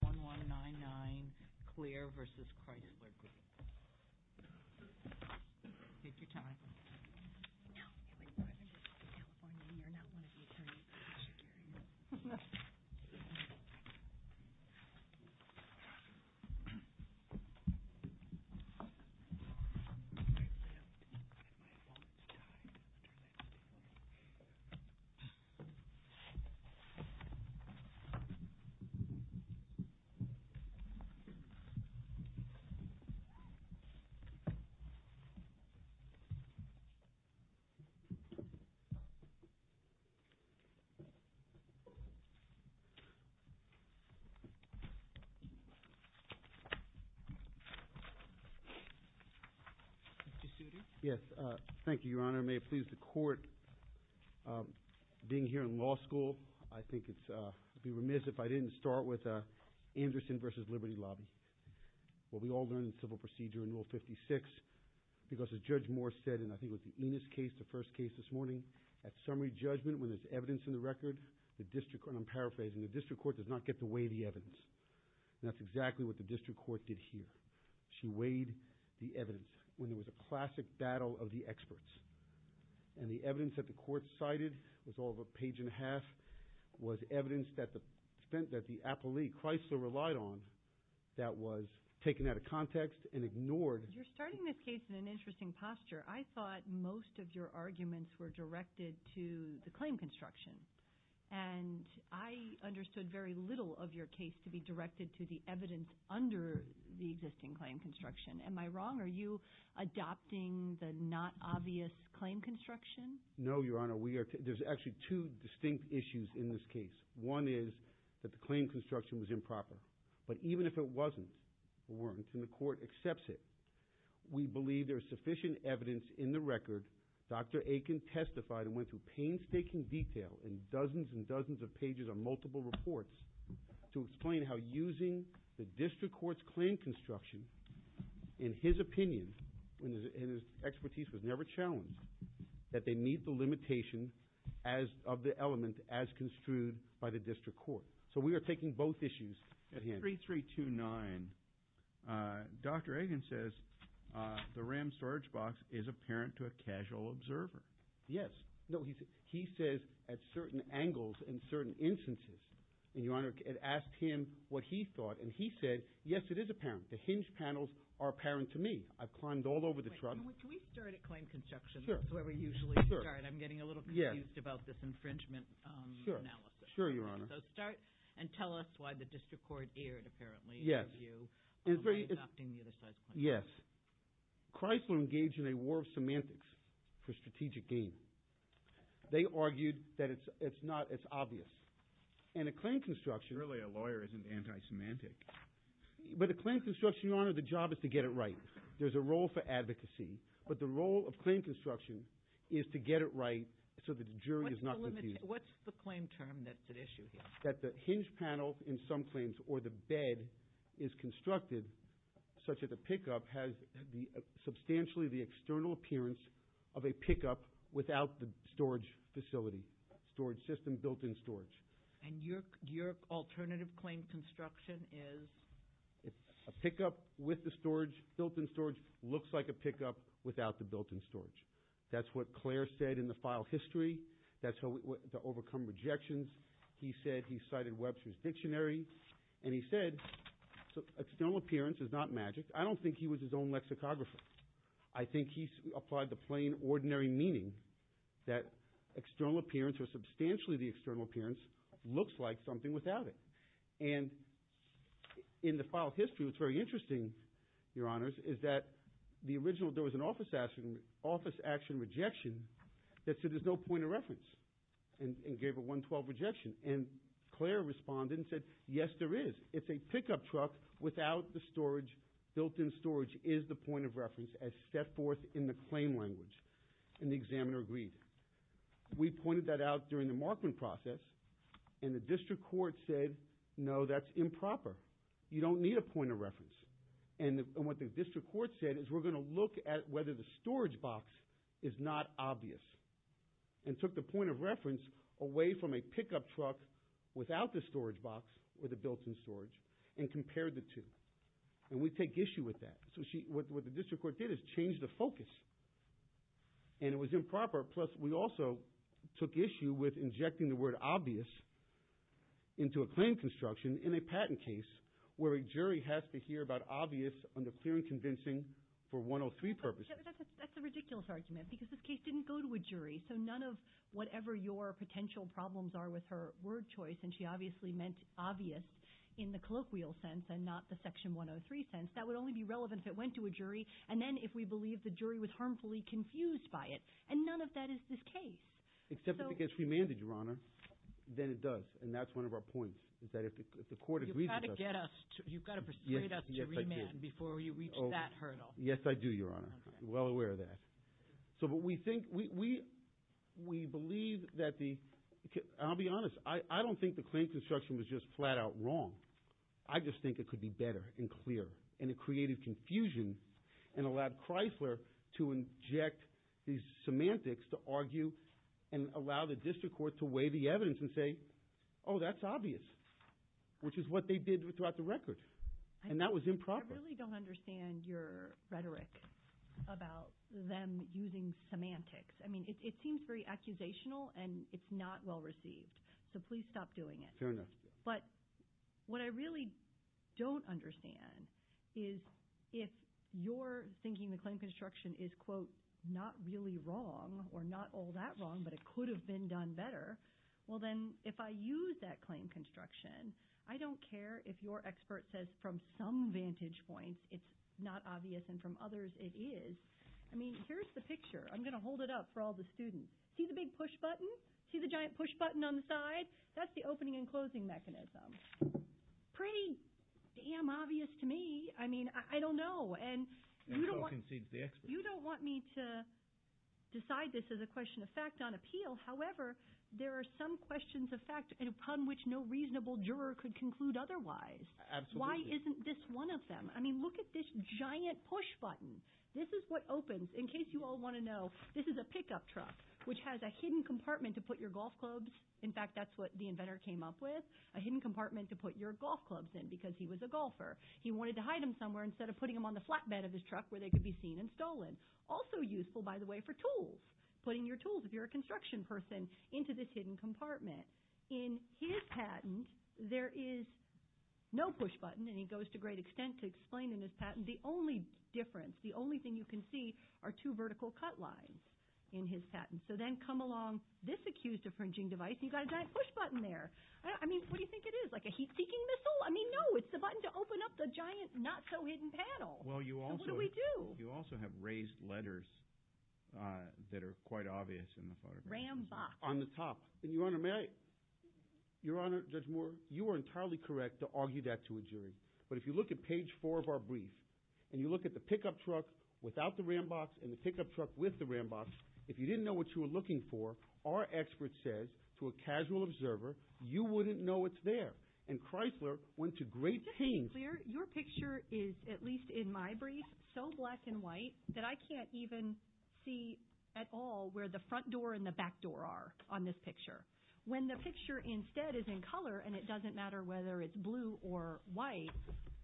1199 Clare v. Chrysler Group Yes, thank you, Your Honor. May it please the Court, being here in law school, I think it's, uh, I'd be remiss if I didn't start with, uh, Anderson v. Liberty Lobby. What we all learned in civil procedure in Rule 56, because as Judge Moore said in, I think, was the Enos case, the first case this morning, at summary judgment, when there's evidence in the record, the district, and I'm paraphrasing, the district court does not get to weigh the evidence. And that's exactly what the district court did here. She weighed the evidence when there was a classic battle of the experts. And the evidence that the court cited was all of a page and a half, was evidence that the, spent, that the appellee, Chrysler, relied on, that was taken out of context and ignored. You're starting this case in an interesting posture. I thought most of your arguments were directed to the claim construction. And I understood very little of your case to be directed to the evidence under the existing claim construction. Am I wrong? Are you adopting the not obvious claim construction? No, Your Honor. There are two distinct issues in this case. One is that the claim construction was improper. But even if it wasn't, or weren't, and the court accepts it, we believe there's sufficient evidence in the record. Dr. Aiken testified and went through painstaking detail in dozens and dozens of pages on multiple reports to explain how using the district court's claim construction, in his opinion, when his expertise was never challenged, that they meet the limitation as, of the element as construed by the district court. So we are taking both issues at hand. At 3329, Dr. Aiken says the RAM storage box is apparent to a casual observer. Yes. No, he says, at certain angles and certain instances. And Your Honor, it asked him what he thought. And he said, yes, it is apparent. The hinge panels are apparent to me. I've climbed all over the truck. Wait, can we start at claim construction? That's where we usually start. I'm getting a little confused about this infringement analysis. Sure, Your Honor. So start, and tell us why the district court erred, apparently, in your view, by adopting the other side's claim construction. Yes. Chrysler engaged in a war of semantics for strategic gain. They argued that it's not as obvious. And a claim construction... Really, a lawyer isn't anti-semantic. But a claim construction, Your Honor, a claim construction is to get it right so that the jury is not confused. What's the claim term that's at issue here? That the hinge panel, in some claims, or the bed is constructed such that the pickup has substantially the external appearance of a pickup without the storage facility, storage system, built-in storage. And your alternative claim construction is? It's a pickup with the storage, built-in storage, looks like a pickup without the built-in storage. That's what Clare said in the file history. That's how to overcome rejections. He said, he cited Webster's Dictionary, and he said, external appearance is not magic. I don't think he was his own lexicographer. I think he applied the plain, ordinary meaning that external appearance, or substantially the external appearance, looks like something without it. And in the file history, what's very interesting, Your Honors, is that the original, there was an office action rejection that said there's no point of reference, and gave a 112 rejection. And Clare responded and said, yes, there is. It's a pickup truck without the storage. Built-in storage is the point of reference, as set forth in the claim language. And the examiner agreed. We pointed that out during the Markman process, and the district court said, no, that's improper. You don't need a point of reference. And what the district court said is, we're going to look at whether the storage box is not obvious. And took the point of reference away from a pickup truck without the storage box, or the built-in storage, and compared the two. And we take issue with that. So what the district court did is change the focus. And it was improper, plus we also took issue with injecting the word obvious into a claim construction in a patent case, where a jury has to hear about obvious under clear and convincing for 103 purposes. That's a ridiculous argument, because this case didn't go to a jury. So none of whatever your potential problems are with her word choice, and she obviously meant obvious in the colloquial sense, and not the section 103 sense, that would only be relevant if it went to a jury, and then if we believe the jury was harmfully confused by it. And none of that is this case. Except if it gets remanded, Your Honor, then it does. And that's one of our points, is that if the court agrees with us. You've got to persuade us to remand before you reach that hurdle. Yes, I do, Your Honor. I'm well aware of that. But we believe that the... I'll be honest, I don't think the claim construction was just flat out wrong. I just think it could be better and clearer, and it created confusion, and allowed Chrysler to inject these semantics to argue, and allow the district court to weigh the evidence and say, oh, that's obvious. Which is what they did throughout the record. And that was improper. I really don't understand your rhetoric about them using semantics. I mean, it seems very accusational, and it's not well received. So please stop doing it. Fair enough. But what I really don't understand is if you're thinking the claim construction is, quote, not really wrong, or not all that wrong, but it could have been done better, well then if I use that claim construction, I don't care if your expert says from some vantage points it's not obvious, and from others it is. I mean, here's the picture. I'm going to hold it up for all the students. See the big push button? See the giant push button on the side? That's the opening and closing mechanism. Pretty damn obvious to me. I mean, I don't know. And so concedes the expert. You don't want me to decide this as a question of fact on appeal. However, there are some questions of fact upon which no reasonable juror could conclude otherwise. Why isn't this one of them? I mean, look at this giant push button. This is what opens. In case you all want to know, this is a pickup truck, which has a hidden compartment to put your golf clubs. In fact, that's what the inventor came up with, a hidden compartment to put your golf clubs in because he was a golfer. He wanted to hide them somewhere instead of putting them on the flatbed of his truck where they could be seen and stolen. Also useful, by the way, for tools, putting your tools, if you're a construction person, into this hidden compartment. In his patent, there is no push button, and he goes to great extent to explain in his patent, the only difference, the only thing you can see are two vertical cut lines in his patent. So then come along this accused infringing device, and you've got a giant push button there. I mean, what do you think it is, like a heat-seeking missile? I mean, no, it's the button to open up the giant not-so-hidden panel. So what do we do? You also have raised letters that are quite obvious in the photographs. Ram box. On the top. Your Honor, may I? Your Honor, Judge Moore, you are entirely correct to argue that to a jury. But if you look at page four of our brief, and you look at the pickup truck without the ram box and the pickup truck with the ram box, if you didn't know what you were looking for, our expert says to a casual observer, you wouldn't know it's there. And Chrysler went to great pains. Your picture is, at least in my brief, so black and white that I can't even see at all where the front door and the back door are on this picture. When the picture instead is in color, and it doesn't matter whether it's blue or white,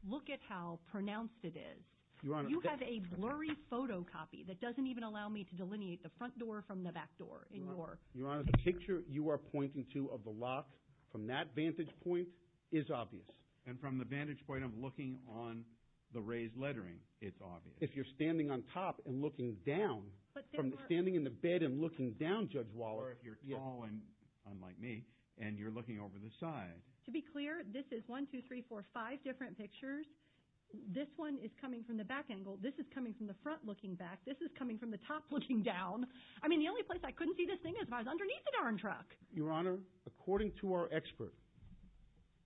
look at how pronounced it is. You have a blurry photocopy that doesn't even allow me to delineate the front door from the back door. Your Honor, the picture you are pointing to of the lock from that vantage point is obvious. And from the vantage point of looking on the raised lettering, it's obvious. If you're standing on top and looking down, from standing in the bed and looking down, Judge Waller. Or if you're tall, unlike me, and you're looking over the side. To be clear, this is one, two, three, four, five different pictures. This one is coming from the back angle. This is coming from the front looking back. This is coming from the top looking down. I mean, the only place I couldn't see this thing is if I was underneath the darn truck. Your Honor, according to our expert,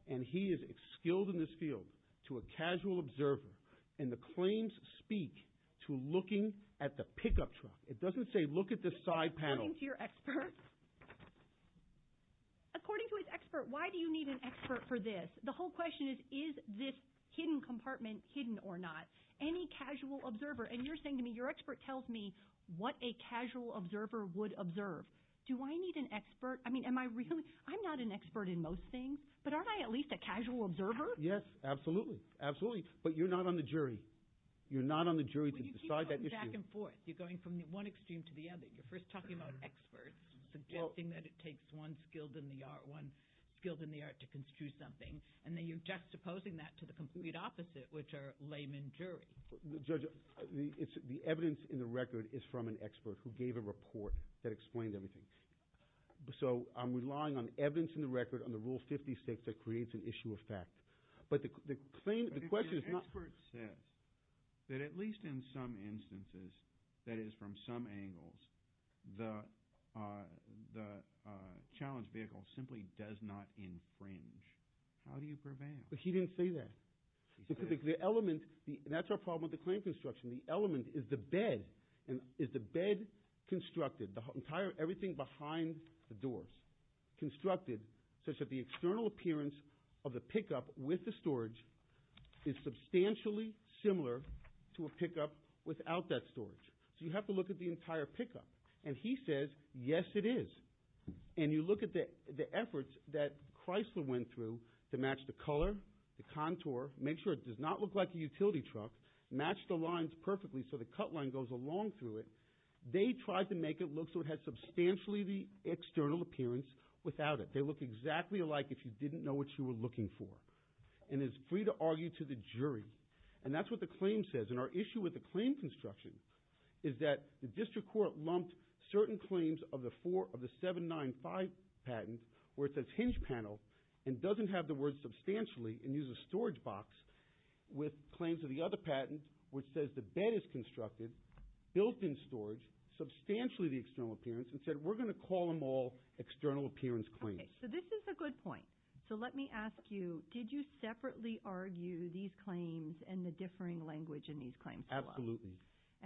and he is skilled in this field, to a casual observer, and the claims speak to looking at the pickup truck. It doesn't say look at the side panel. According to your expert? According to his expert, why do you need an expert for this? The whole question is, is this hidden compartment hidden or not? Any casual observer? And you're saying to me, your expert tells me what a casual observer would observe. Do I need an expert? I mean, I'm not an expert in most things, but aren't I at least a casual observer? Yes, absolutely. Absolutely. But you're not on the jury. You're not on the jury to decide that. But you keep going back and forth. You're going from one extreme to the other. You're first talking about experts, suggesting that it takes one skilled in the art to construe something. And then you're juxtaposing that to the complete opposite, which are layman jury. Judge, the evidence in the record is from an expert who gave a report that explained everything. So I'm relying on evidence in the record, on the Rule 56, that creates an issue of fact. But the claim, the question is not... But your expert says that at least in some instances, that is from some angles, the challenge vehicle simply does not infringe. How do you prevail? But he didn't say that. The element, and that's our problem with the claim construction. The doors constructed such that the external appearance of the pickup with the storage is substantially similar to a pickup without that storage. So you have to look at the entire pickup. And he says, yes, it is. And you look at the efforts that Chrysler went through to match the color, the contour, make sure it does not look like a utility truck, match the lines perfectly so the cut line goes along through it. They tried to make it look so it had substantially the external appearance without it. They look exactly alike if you didn't know what you were looking for. And it's free to argue to the jury. And that's what the claim says. And our issue with the claim construction is that the district court lumped certain claims of the four of the 795 patent where it says hinge panel and doesn't have the word substantially and uses a storage box with claims of the other patent which says the bed is constructed, built in storage, substantially the external appearance, and said we're going to call them all external appearance claims. Okay. So this is a good point. So let me ask you, did you separately argue these claims and the differing language in these claims? Absolutely.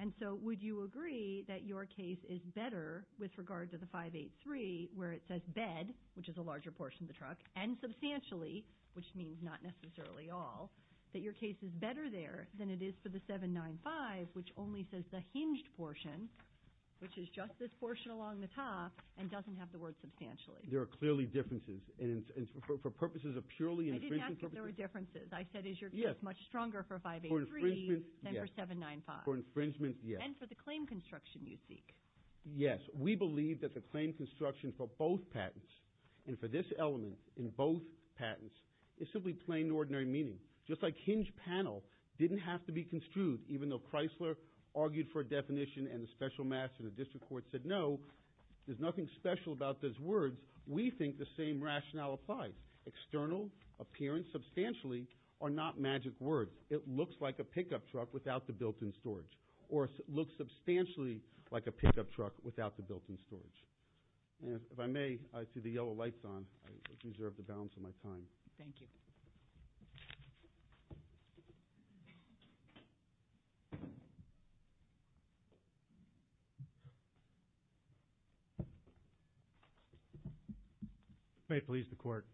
And so would you agree that your case is better with regard to the 583 where it says bed, which is a larger portion of the truck, and substantially, which means not necessarily all, that your case is better there than it is for the 795 which only says the hinged portion, which is just this portion along the top, and doesn't have the word substantially? There are clearly differences. And for purposes of purely infringement purposes... I didn't ask if there were differences. I said is your case much stronger for 583... For infringement, yes. ...than for 795? For infringement, yes. And for the claim construction you seek? Yes. We believe that the claim construction for both patents, and for this element in both patents, is simply plain ordinary meaning. Just like hinged panel didn't have to be construed, even though Chrysler argued for a definition and the special master of the district court said no, there's nothing special about those words, we think the same rationale applies. External appearance substantially are not magic words. It looks like a pickup truck without the built-in storage. And if I may, I see the yellow lights on. I deserve to balance on my time. Thank you. May it please the court.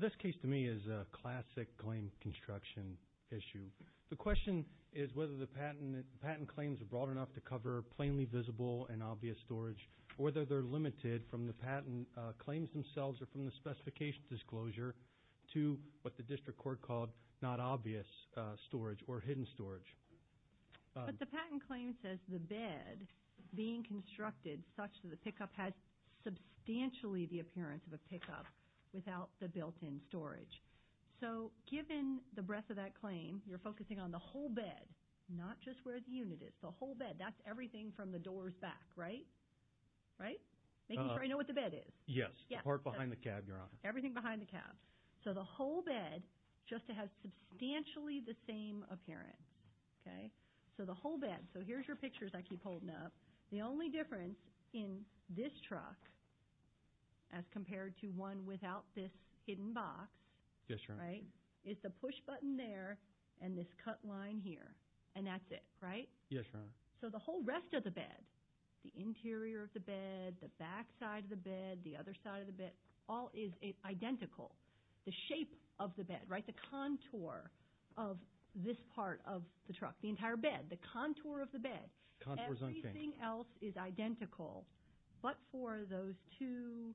This case to me is a classic claim construction issue. The question is whether the patent claims are broad enough to cover plainly visible and obvious storage, or whether they're limited from the patent claims themselves or from the specification disclosure to what the district court called not obvious storage or hidden storage. But the patent claim says the bed being constructed such that the pickup has substantially the appearance of a pickup without the built-in storage. So given the breadth of that claim, you're focusing on the whole bed, not just where the unit is. The whole bed, that's everything from the doors back, right? Right? Making sure I know what the bed is. Yes. The part behind the cab, your honor. Everything behind the cab. So the whole bed just to have substantially the same appearance. Okay? So the whole bed. So here's your pictures I keep holding up. The only difference in this truck as compared to one without this hidden box. Yes, your honor. Right? Is the push button there and this cut line here. And that's it, right? Yes, your honor. So the whole rest of the bed, the interior of the bed, the back side of the bed, the other side of the bed, all is identical. The shape of the bed, right? The contour of this part of the truck, the entire bed, the contour of the bed. Everything else is identical, but for those two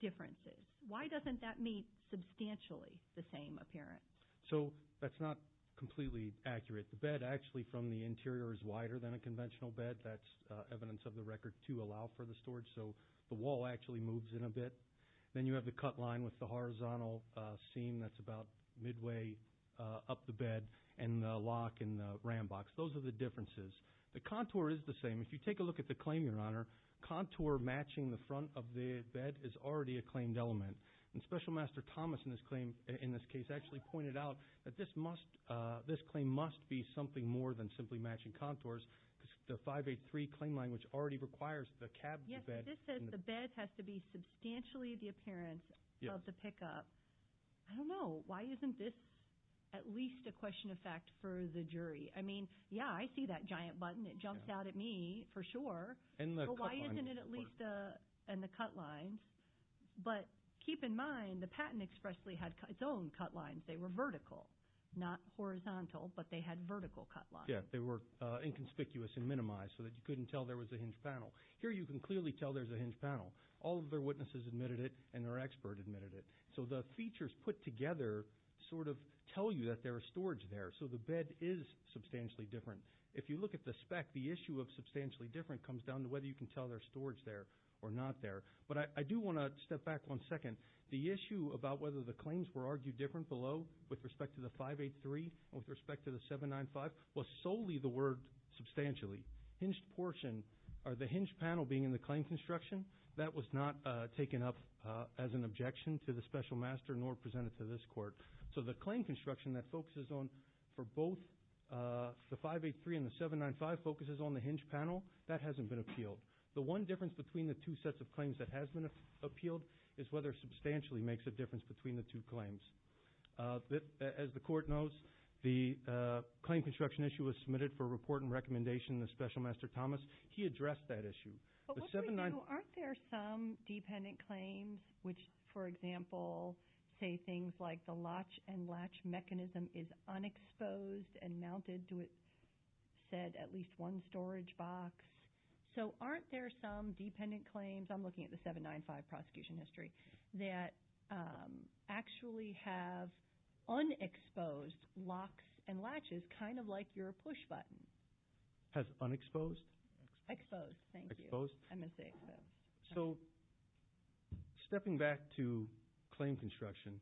differences. Why doesn't that meet substantially the same appearance? So that's not completely accurate. The bed actually from the interior is wider than a conventional bed. That's evidence of the record to allow for the storage. So the wall actually moves in a bit. Then you have the cut line with the horizontal seam that's about midway up the bed and the lock and the ram box. Those are the differences. The contour is the same. If you look at the claim, your honor, contour matching the front of the bed is already a claimed element. And special master Thomas in this case actually pointed out that this claim must be something more than simply matching contours because the 583 claim language already requires the cab. Yes, this says the bed has to be substantially the appearance of the pickup. I don't know. Why isn't this at least a question of fact for the jury? I mean, yeah, I see that giant button. It jumps out at me for sure. But why isn't it at least in the cut lines? But keep in mind, the patent expressly had its own cut lines. They were vertical, not horizontal, but they had vertical cut lines. Yeah, they were inconspicuous and minimized so that you couldn't tell there was a hinge panel. Here you can clearly tell there's a hinge panel. All of their witnesses admitted it and their expert admitted it. So the features put together sort of tell you that there are storage there. So the bed is substantially different. If you look at the spec, the issue of substantially different comes down to whether you can tell their storage there or not there. But I do want to step back one second. The issue about whether the claims were argued different below with respect to the 583 and with respect to the 795 was solely the word substantially. Hinged portion or the hinge panel being in the claim construction, that was not taken up as an objection to the special master nor presented to this court. So the claim construction that focuses on for both the 583 and the 795 focuses on the hinge panel, that hasn't been appealed. The one difference between the two sets of claims that has been appealed is whether substantially makes a difference between the two claims. As the court knows, the claim construction issue was submitted for report and recommendation in the special master Thomas. He addressed that issue. But what we do, aren't there some dependent claims which, for example, say things like the latch and latch mechanism is unexposed and mounted to it said at least one storage box. So aren't there some dependent claims, I'm looking at the 795 prosecution history, that actually have unexposed locks and latches kind of like your push button? Has unexposed? Exposed, thank you. So stepping back to claim construction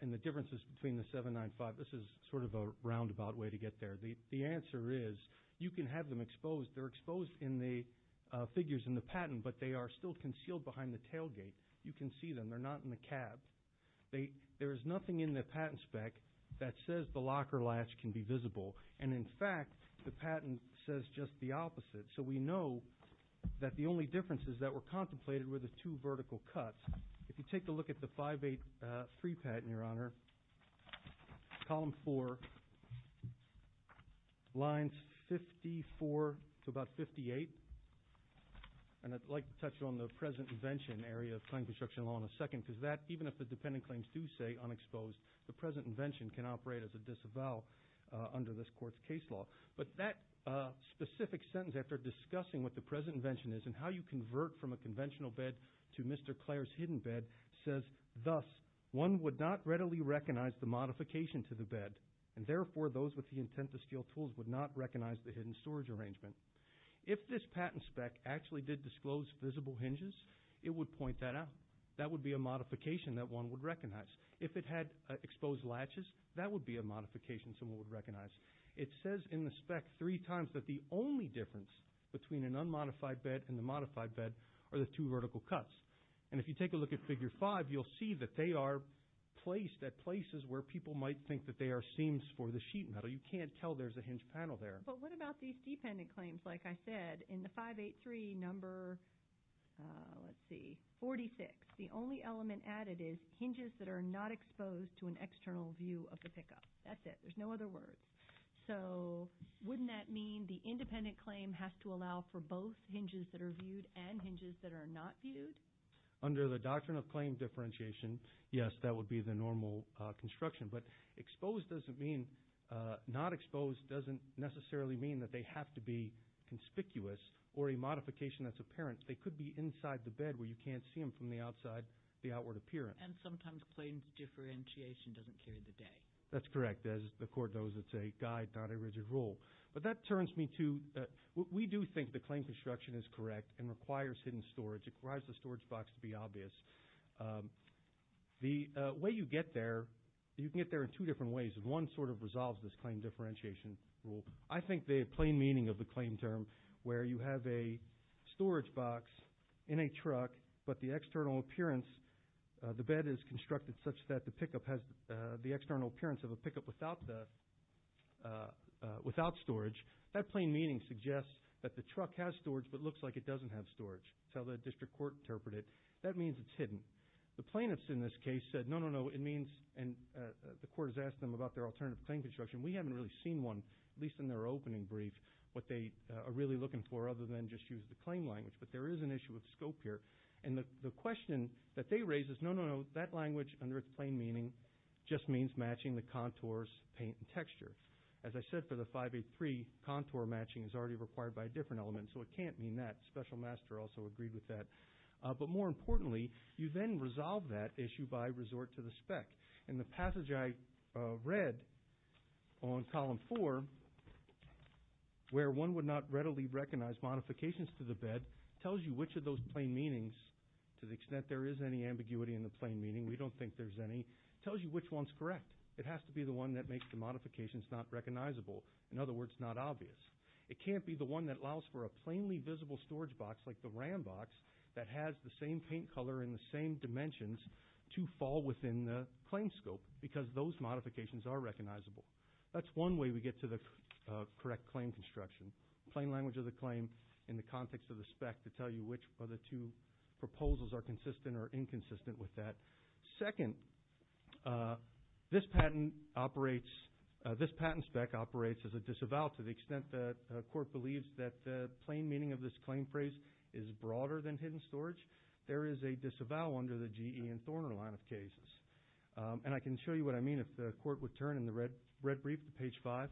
and the differences between the 795, this is sort of a roundabout way to get there. The answer is you can have them exposed. They're exposed in the figures in the patent but they are still concealed behind the tailgate. You can see them, they're not in the cab. There is nothing in the patent spec that says the lock or latch can be visible. And in fact, the patent says just the opposite. So we know that the only differences that were contemplated were the two vertical cuts. If you take a look at the 583 patent, your honor, column four, lines 54 to about 58, and I'd like to touch on the present invention area of claim construction law in a second, because that, even if the dependent claims do say unexposed, the present invention can operate as a disavow under this court's case law. But that specific sentence after discussing what the present invention is and how you convert from a conventional bed to Mr. Clare's hidden bed, says thus, one would not readily recognize the modification to the bed and therefore those with the intent to steal tools would not recognize the hidden storage arrangement. If this patent spec actually did disclose visible hinges, it would point that out. That would be a modification that one would recognize. If it had exposed latches, that would be a modification someone would recognize. It says in the spec three times that the only difference between an unmodified bed and the modified bed are the two vertical cuts. And if you take a look at figure five, you'll see that they are placed at places where people might think that they are seams for the sheet metal. You can't tell there's a hinge panel there. But what about these dependent claims? Like I said, in the 583 number, let's see, 46, the only element added is hinges that are not exposed to an external view of the pickup. That's it. There's no other words. So wouldn't that mean the independent claim has to allow for both hinges that are viewed and hinges that are not viewed? Under the doctrine of claim differentiation, yes, that would be the normal construction. But exposed doesn't mean, not they could be inside the bed where you can't see them from the outside, the outward appearance. And sometimes claims differentiation doesn't carry the day. That's correct. As the court knows, it's a guide, not a rigid rule. But that turns me to, we do think the claim construction is correct and requires hidden storage. It requires the storage box to be obvious. The way you get there, you can get there in two different ways. And one sort of resolves this claim differentiation rule. I think the plain meaning of the claim term, where you have a storage box in a truck, but the external appearance, the bed is constructed such that the pickup has the external appearance of a pickup without storage. That plain meaning suggests that the truck has storage, but looks like it doesn't have storage. That's how the district court interpreted it. That means it's hidden. The plaintiffs in this case said, no, no, no, it means, and the court has asked them about their alternative claim construction. We haven't really seen one, at least in their opening brief, what they are really looking for, other than just use the claim language. But there is an issue with scope here. And the question that they raise is, no, no, no, that language under its plain meaning just means matching the contours, paint, and texture. As I said for the 583, contour matching is already required by a different element, so it can't mean that. Special Master also agreed with that. But more importantly, you then resolve that issue by resort to the spec. In the passage I read on column four, where one would not readily recognize modifications to the bed, tells you which of those plain meanings, to the extent there is any ambiguity in the plain meaning, we don't think there's any, tells you which one's correct. It has to be the one that makes the modifications not recognizable. In other words, not obvious. It can't be the one that allows for a plainly visible storage box, like the RAM box, that has the same paint color and the same scope, because those modifications are recognizable. That's one way we get to the correct claim construction. Plain language of the claim in the context of the spec to tell you which of the two proposals are consistent or inconsistent with that. Second, this patent spec operates as a disavowal to the extent that a court believes that the plain meaning of this claim phrase is broader than hidden storage. There is a disavowal under the GE and Thorner line of cases. I can show you what I mean if the court would turn in the red brief to page five.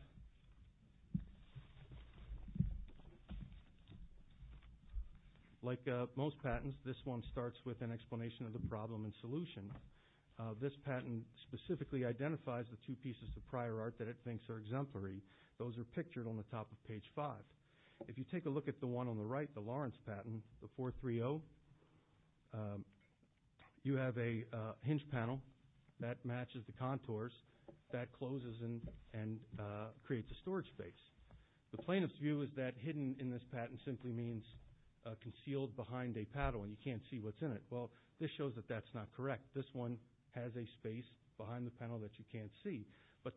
Like most patents, this one starts with an explanation of the problem and solution. This patent specifically identifies the two pieces of prior art that it thinks are exemplary. Those are pictured on the top of page five. If you take a look at the one on the right, the Lawrence patent, the 430, you have a hinge panel that matches the contours that closes and creates a storage space. The plaintiff's view is that hidden in this patent simply means concealed behind a paddle and you can't see what's in it. This shows that that's not correct. This one has a space behind the panel that you can't see.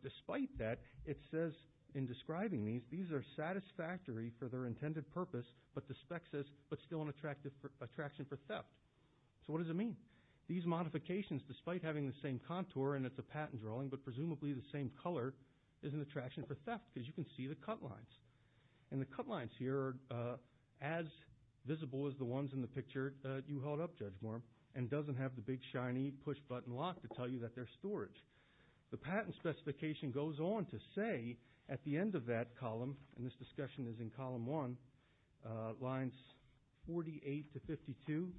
Despite that, it says in describing these, these are satisfactory for their intended purpose, but still an attraction for theft. What does it mean? These modifications, despite having the same contour and it's a patent drawing, but presumably the same color, is an attraction for theft because you can see the cut lines. The cut lines here are as visible as the ones in the picture you held up, Judge Moore, and doesn't have the big shiny push button lock to tell you that they're storage. The patent specification goes on to say at the end of that column, and this discussion is in column one, lines 48 to 52,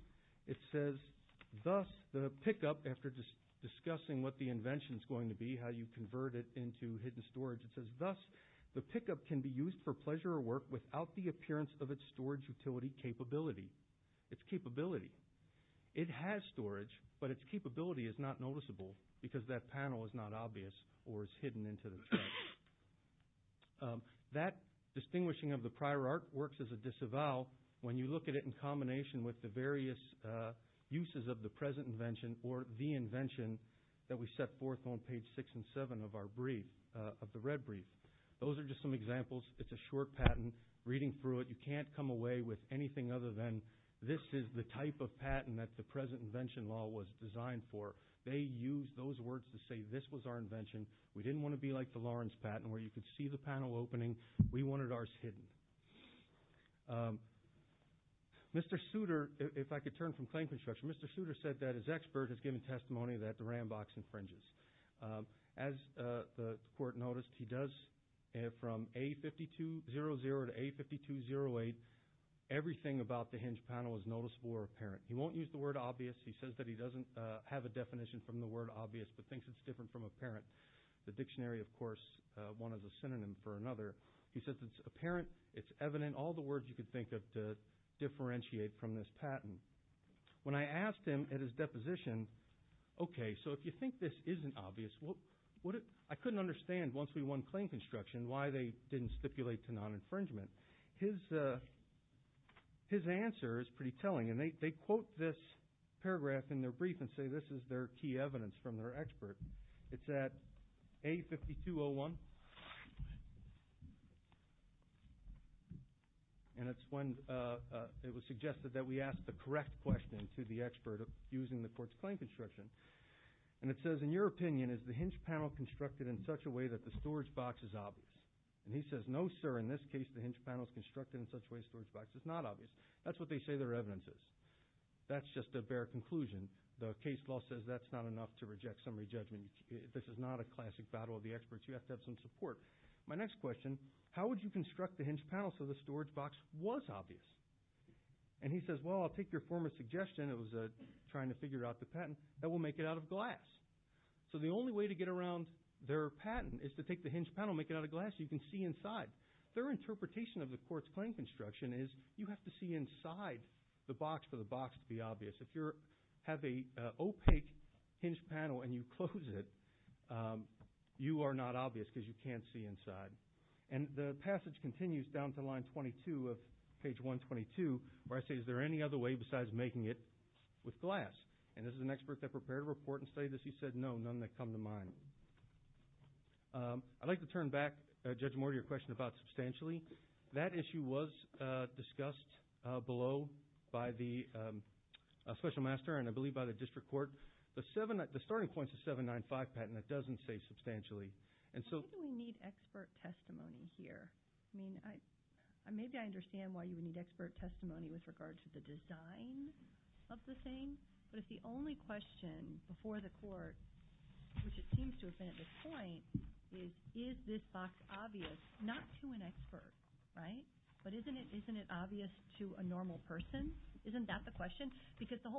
it says, thus the pickup, after discussing what the invention is going to be, how you convert it into hidden storage, it says, thus the pickup can be used for pleasure or work without the appearance of its storage utility capability. Its capability. It has storage, but its capability is not noticeable because that panel is not obvious or is hidden into the trunk. That distinguishing of the prior art works as a disavow when you look at it in combination with the various uses of the present invention or the invention that we set forth on page six and seven of our brief, of the red brief. Those are just some examples. It's a short patent. Reading through it, you can't come away with anything other than this is the type of patent that the present invention law was designed for. They used those words to say this was our invention. We didn't want to be like the Lawrence patent where you could see the panel opening. We wanted ours hidden. Mr. Souter, if I could turn from claim construction, Mr. Souter said that his expert has given testimony that the Rambox infringes. As the court noticed, he does from A52-00 to A52-08, everything about the hinge panel is noticeable or apparent. He won't use the word obvious. He says that he doesn't have a definition from the word obvious, but thinks it's different from apparent. The dictionary, of course, one is a synonym for another. He says it's apparent, it's evident, all the words you could think of to differentiate from this patent. When I asked him at his deposition, okay, if you think this isn't obvious, I couldn't understand once we won claim construction why they didn't stipulate to non-infringement. His answer is pretty telling. They quote this paragraph in their brief and say this is their key evidence from their expert. It's at A52-01, and it's when it was suggested that we ask the correct question to the expert using the court's claim construction. And it says, in your opinion, is the hinge panel constructed in such a way that the storage box is obvious? And he says, no, sir, in this case, the hinge panel is constructed in such a way that the storage box is not obvious. That's what they say their evidence is. That's just a bare conclusion. The case law says that's not enough to reject summary judgment. This is not a classic battle of the experts. You have to have some support. My next question, how would you construct the hinge panel so the storage box was obvious? And he says, well, I'll take your former suggestion, it was trying to figure out the patent, that we'll make it out of glass. So the only way to get around their patent is to take the hinge panel and make it out of glass so you can see inside. Their interpretation of the court's claim construction is you have to see inside the box for the box to be obvious. If you have an opaque hinge panel and you close it, you are not obvious because you can't see inside. And the passage continues down to line 22 of page 122 where I say, is there any other way besides making it with glass? And this is an expert that prepared a report and studied this. He said, no, none that come to mind. I'd like to turn back, Judge Moore, to your question about substantially. That issue was discussed below by the special master and I believe by the district court. The starting points that doesn't say substantially. Why do we need expert testimony here? Maybe I understand why you would need expert testimony with regard to the design of the thing. But if the only question before the court, which it seems to have been at this point, is, is this box obvious? Not to an expert, right? But isn't it obvious to a normal person? Isn't that the question? Because the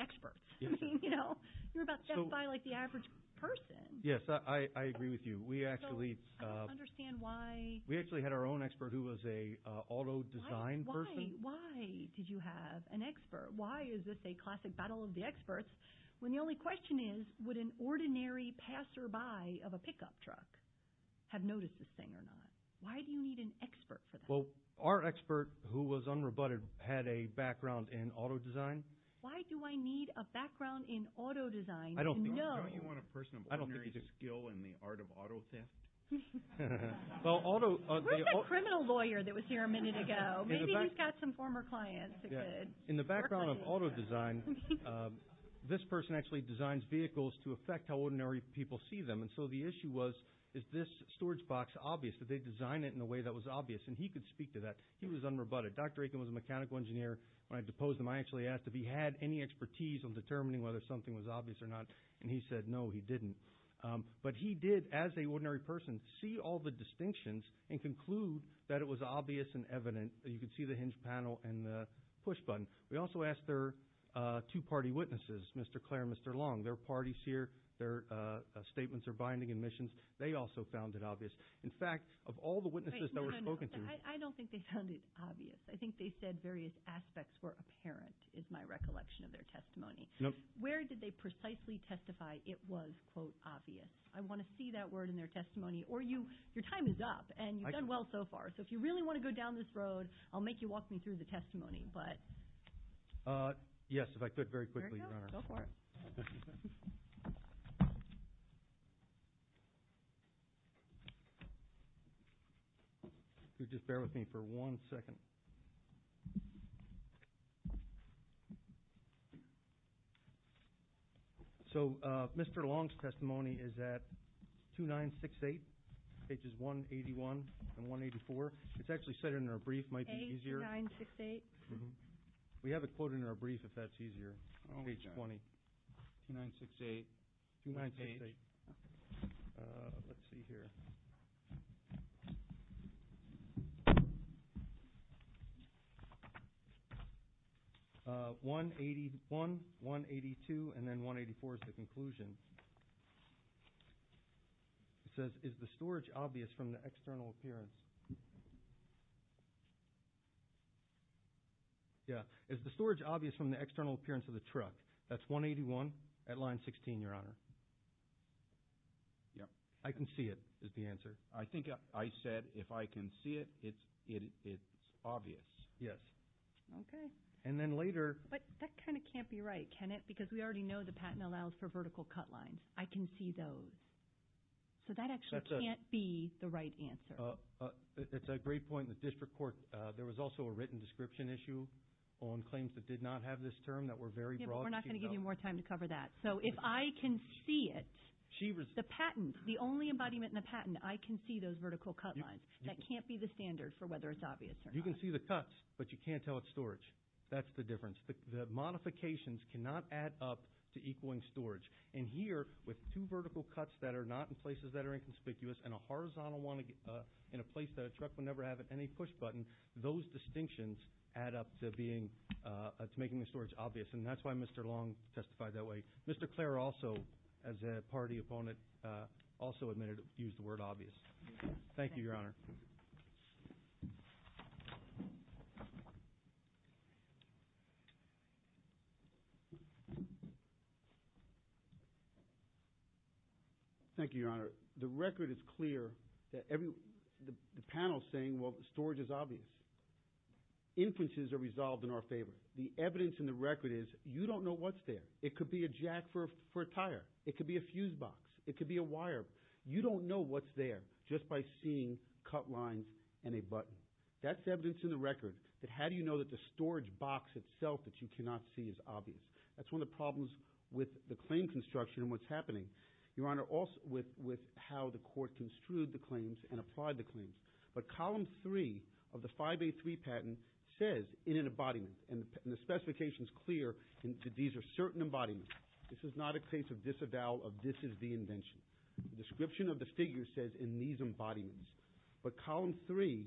experts, you know, you're about to buy like the average person. Yes, I agree with you. We actually understand why we actually had our own expert who was a auto design person. Why did you have an expert? Why is this a classic battle of the experts? When the only question is, would an ordinary passerby of a pickup truck have noticed this thing or not? Why do you need an expert for our expert who was unrebutted, had a background in auto design? Why do I need a background in auto design? I don't think you want a person of ordinary skill in the art of auto theft. Well, auto, criminal lawyer that was here a minute ago. Maybe he's got some former clients. In the background of auto design, this person actually designs vehicles to affect how ordinary people see them. And so the issue was, is this storage box obvious? Did they design it in a way that was obvious and he could speak to that? He was unrebutted. Dr. Aitken was a mechanical engineer. When I deposed him, I actually asked if he had any expertise on determining whether something was obvious or not. And he said, no, he didn't. But he did, as a ordinary person, see all the distinctions and conclude that it was obvious and evident. You could see the hinge panel and the push button. We also asked their two party witnesses, Mr. Clare and Mr. Long, their parties here, their statements or binding admissions. They also found it obvious. In fact, of all the I don't think they found it obvious. I think they said various aspects were apparent, is my recollection of their testimony. Where did they precisely testify it was, quote, obvious? I want to see that word in their testimony. Or your time is up and you've done well so far. So if you really want to go down this road, I'll make you walk me through the testimony. But yes, if I could very quickly, your honor. Go for it. Could you just bear with me for one second? So Mr. Long's testimony is at 2968, pages 181 and 184. It's actually set in a brief, might be easier. We have a quote in our brief if that's easier. Page 20. Let's see here. 181, 182 and then 184 is the conclusion. It says, is the storage obvious from the external appearance? Yeah, is the storage obvious from the external appearance of the truck? That's 181 at line 16, your honor. Yeah, I can see it is the answer. I think I said, if I can see it, it's obvious. Yes. And then later. But that kind of can't be right, can it? Because we already know the patent allows for vertical cut lines. I can see those. So that actually can't be the right answer. It's a great point in the district court. There was also a written description issue on claims that did not have this term that were very broad. We're not going to give you more time to cover that. So if I can see it, the patent, the only embodiment in the patent, I can see those vertical cut lines. That can't be the standard for whether it's obvious or not. You can see the cuts, but you can't tell it's storage. That's the difference. The modifications cannot add up to equaling storage. And here, with two vertical cuts that are not in places that are inconspicuous and a horizontal one in a place that a truck will never have any push button, those distinctions add up to being, to making the storage obvious. And that's why Mr. Long testified that way. Mr. Clare also, as a party opponent, also admitted to use the word obvious. Thank you, Your Honor. Thank you, Your Honor. The record is clear that the panel is saying, well, storage is obvious. Inferences are resolved in our favor. The evidence in the record is you don't know what's there. It could be a jack for a tire. It could be a fuse box. It could be a wire. You don't know what's just by seeing cut lines and a button. That's evidence in the record that how do you know that the storage box itself that you cannot see is obvious. That's one of the problems with the claim construction and what's happening, Your Honor, also with how the court construed the claims and applied the claims. But Column 3 of the 5A3 patent says in an embodiment, and the specification's clear that these are certain embodiments. This is not a case of disavowal of this is the invention. The description of the figure says in these embodiments. But Column 3,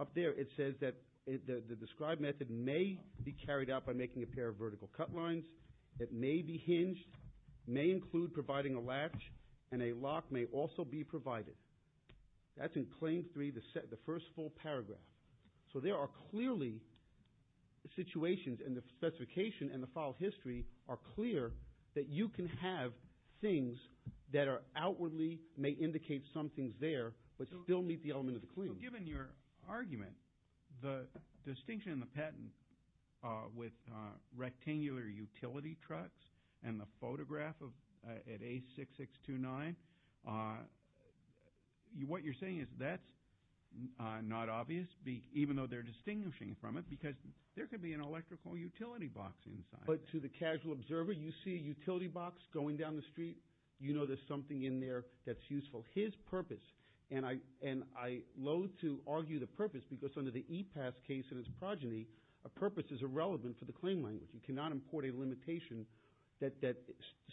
up there, it says that the described method may be carried out by making a pair of vertical cut lines. It may be hinged, may include providing a latch, and a lock may also be provided. That's in Claim 3, the first full paragraph. So there are clearly situations, and the that are outwardly may indicate something's there, but still meet the element of the claim. Given your argument, the distinction in the patent with rectangular utility trucks and the photograph at A6629, what you're saying is that's not obvious, even though they're distinguishing from it, because there could be an electrical utility box inside. To the casual observer, you see a utility box going down the street, you know there's something in there that's useful. His purpose, and I loathe to argue the purpose, because under the E-PASS case and its progeny, a purpose is irrelevant for the claim language. You cannot import a limitation that that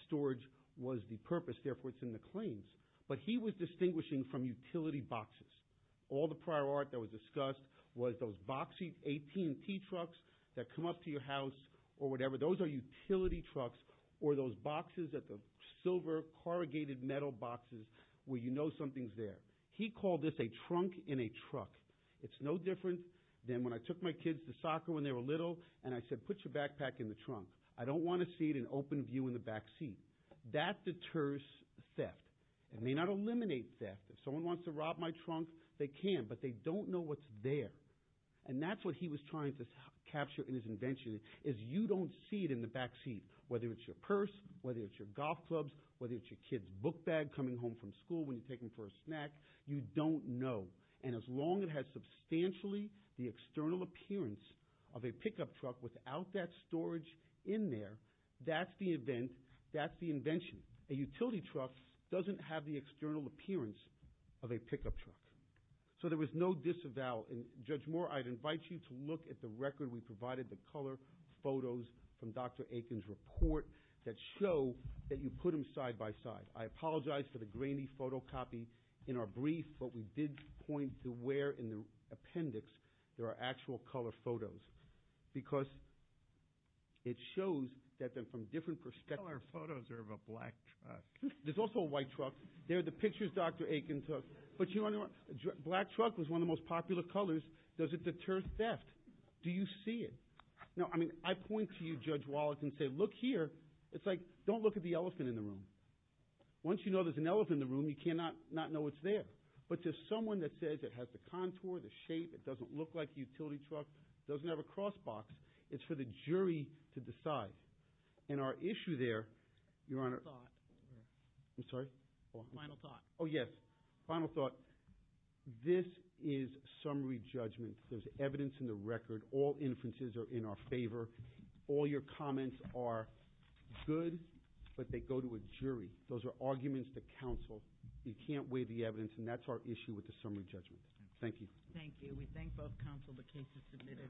storage was the purpose, therefore it's in the claims. But he was distinguishing from utility boxes. All the prior art that was discussed was those boxy 18T trucks that come up to your house or whatever, those are utility trucks, or those boxes at the silver corrugated metal boxes where you know something's there. He called this a trunk in a truck. It's no different than when I took my kids to soccer when they were little, and I said, put your backpack in the trunk. I don't want to see it in open view in the backseat. That deters theft. It may not eliminate theft. If someone wants to rob my trunk, they can, but they don't know what's there. And that's what he was trying to capture in his invention, is you don't see it in the backseat, whether it's your purse, whether it's your golf clubs, whether it's your kid's book bag coming home from school when you take them for a snack, you don't know. And as long as it has substantially the external appearance of a pickup truck without that storage in there, that's the event, that's the invention. A utility truck doesn't have the external appearance of a pickup truck. So there was no disavowal, and Judge Moore, I'd invite you to look at the record we provided, the color photos from Dr. Aiken's report that show that you put them side by side. I apologize for the grainy photocopy in our brief, but we did point to where in the appendix there are actual color photos, because it shows that they're from different perspectives. Our photos are of a black truck. There's also a white truck. They're the pictures Dr. Aiken took, but you know what? Black truck was one of the most popular colors. Does it deter theft? Do you see it? Now, I mean, I point to you, Judge Wallace, and say, look here. It's like, don't look at the elephant in the room. Once you know there's an elephant in the room, you cannot not know it's there. But to someone that says it has the contour, the shape, it doesn't look like a utility truck, doesn't have a cross box, it's for the jury to decide. And our issue there, Your Honor... Final thought. I'm sorry? Final thought. Oh, yes. Final thought. This is summary judgment. There's evidence in the record. All inferences are in our favor. All your comments are good, but they go to a jury. Those are arguments to counsel. You can't weigh the evidence, and that's our issue with the summary judgment. Thank you. Thank you. We thank both counsel. The case is submitted.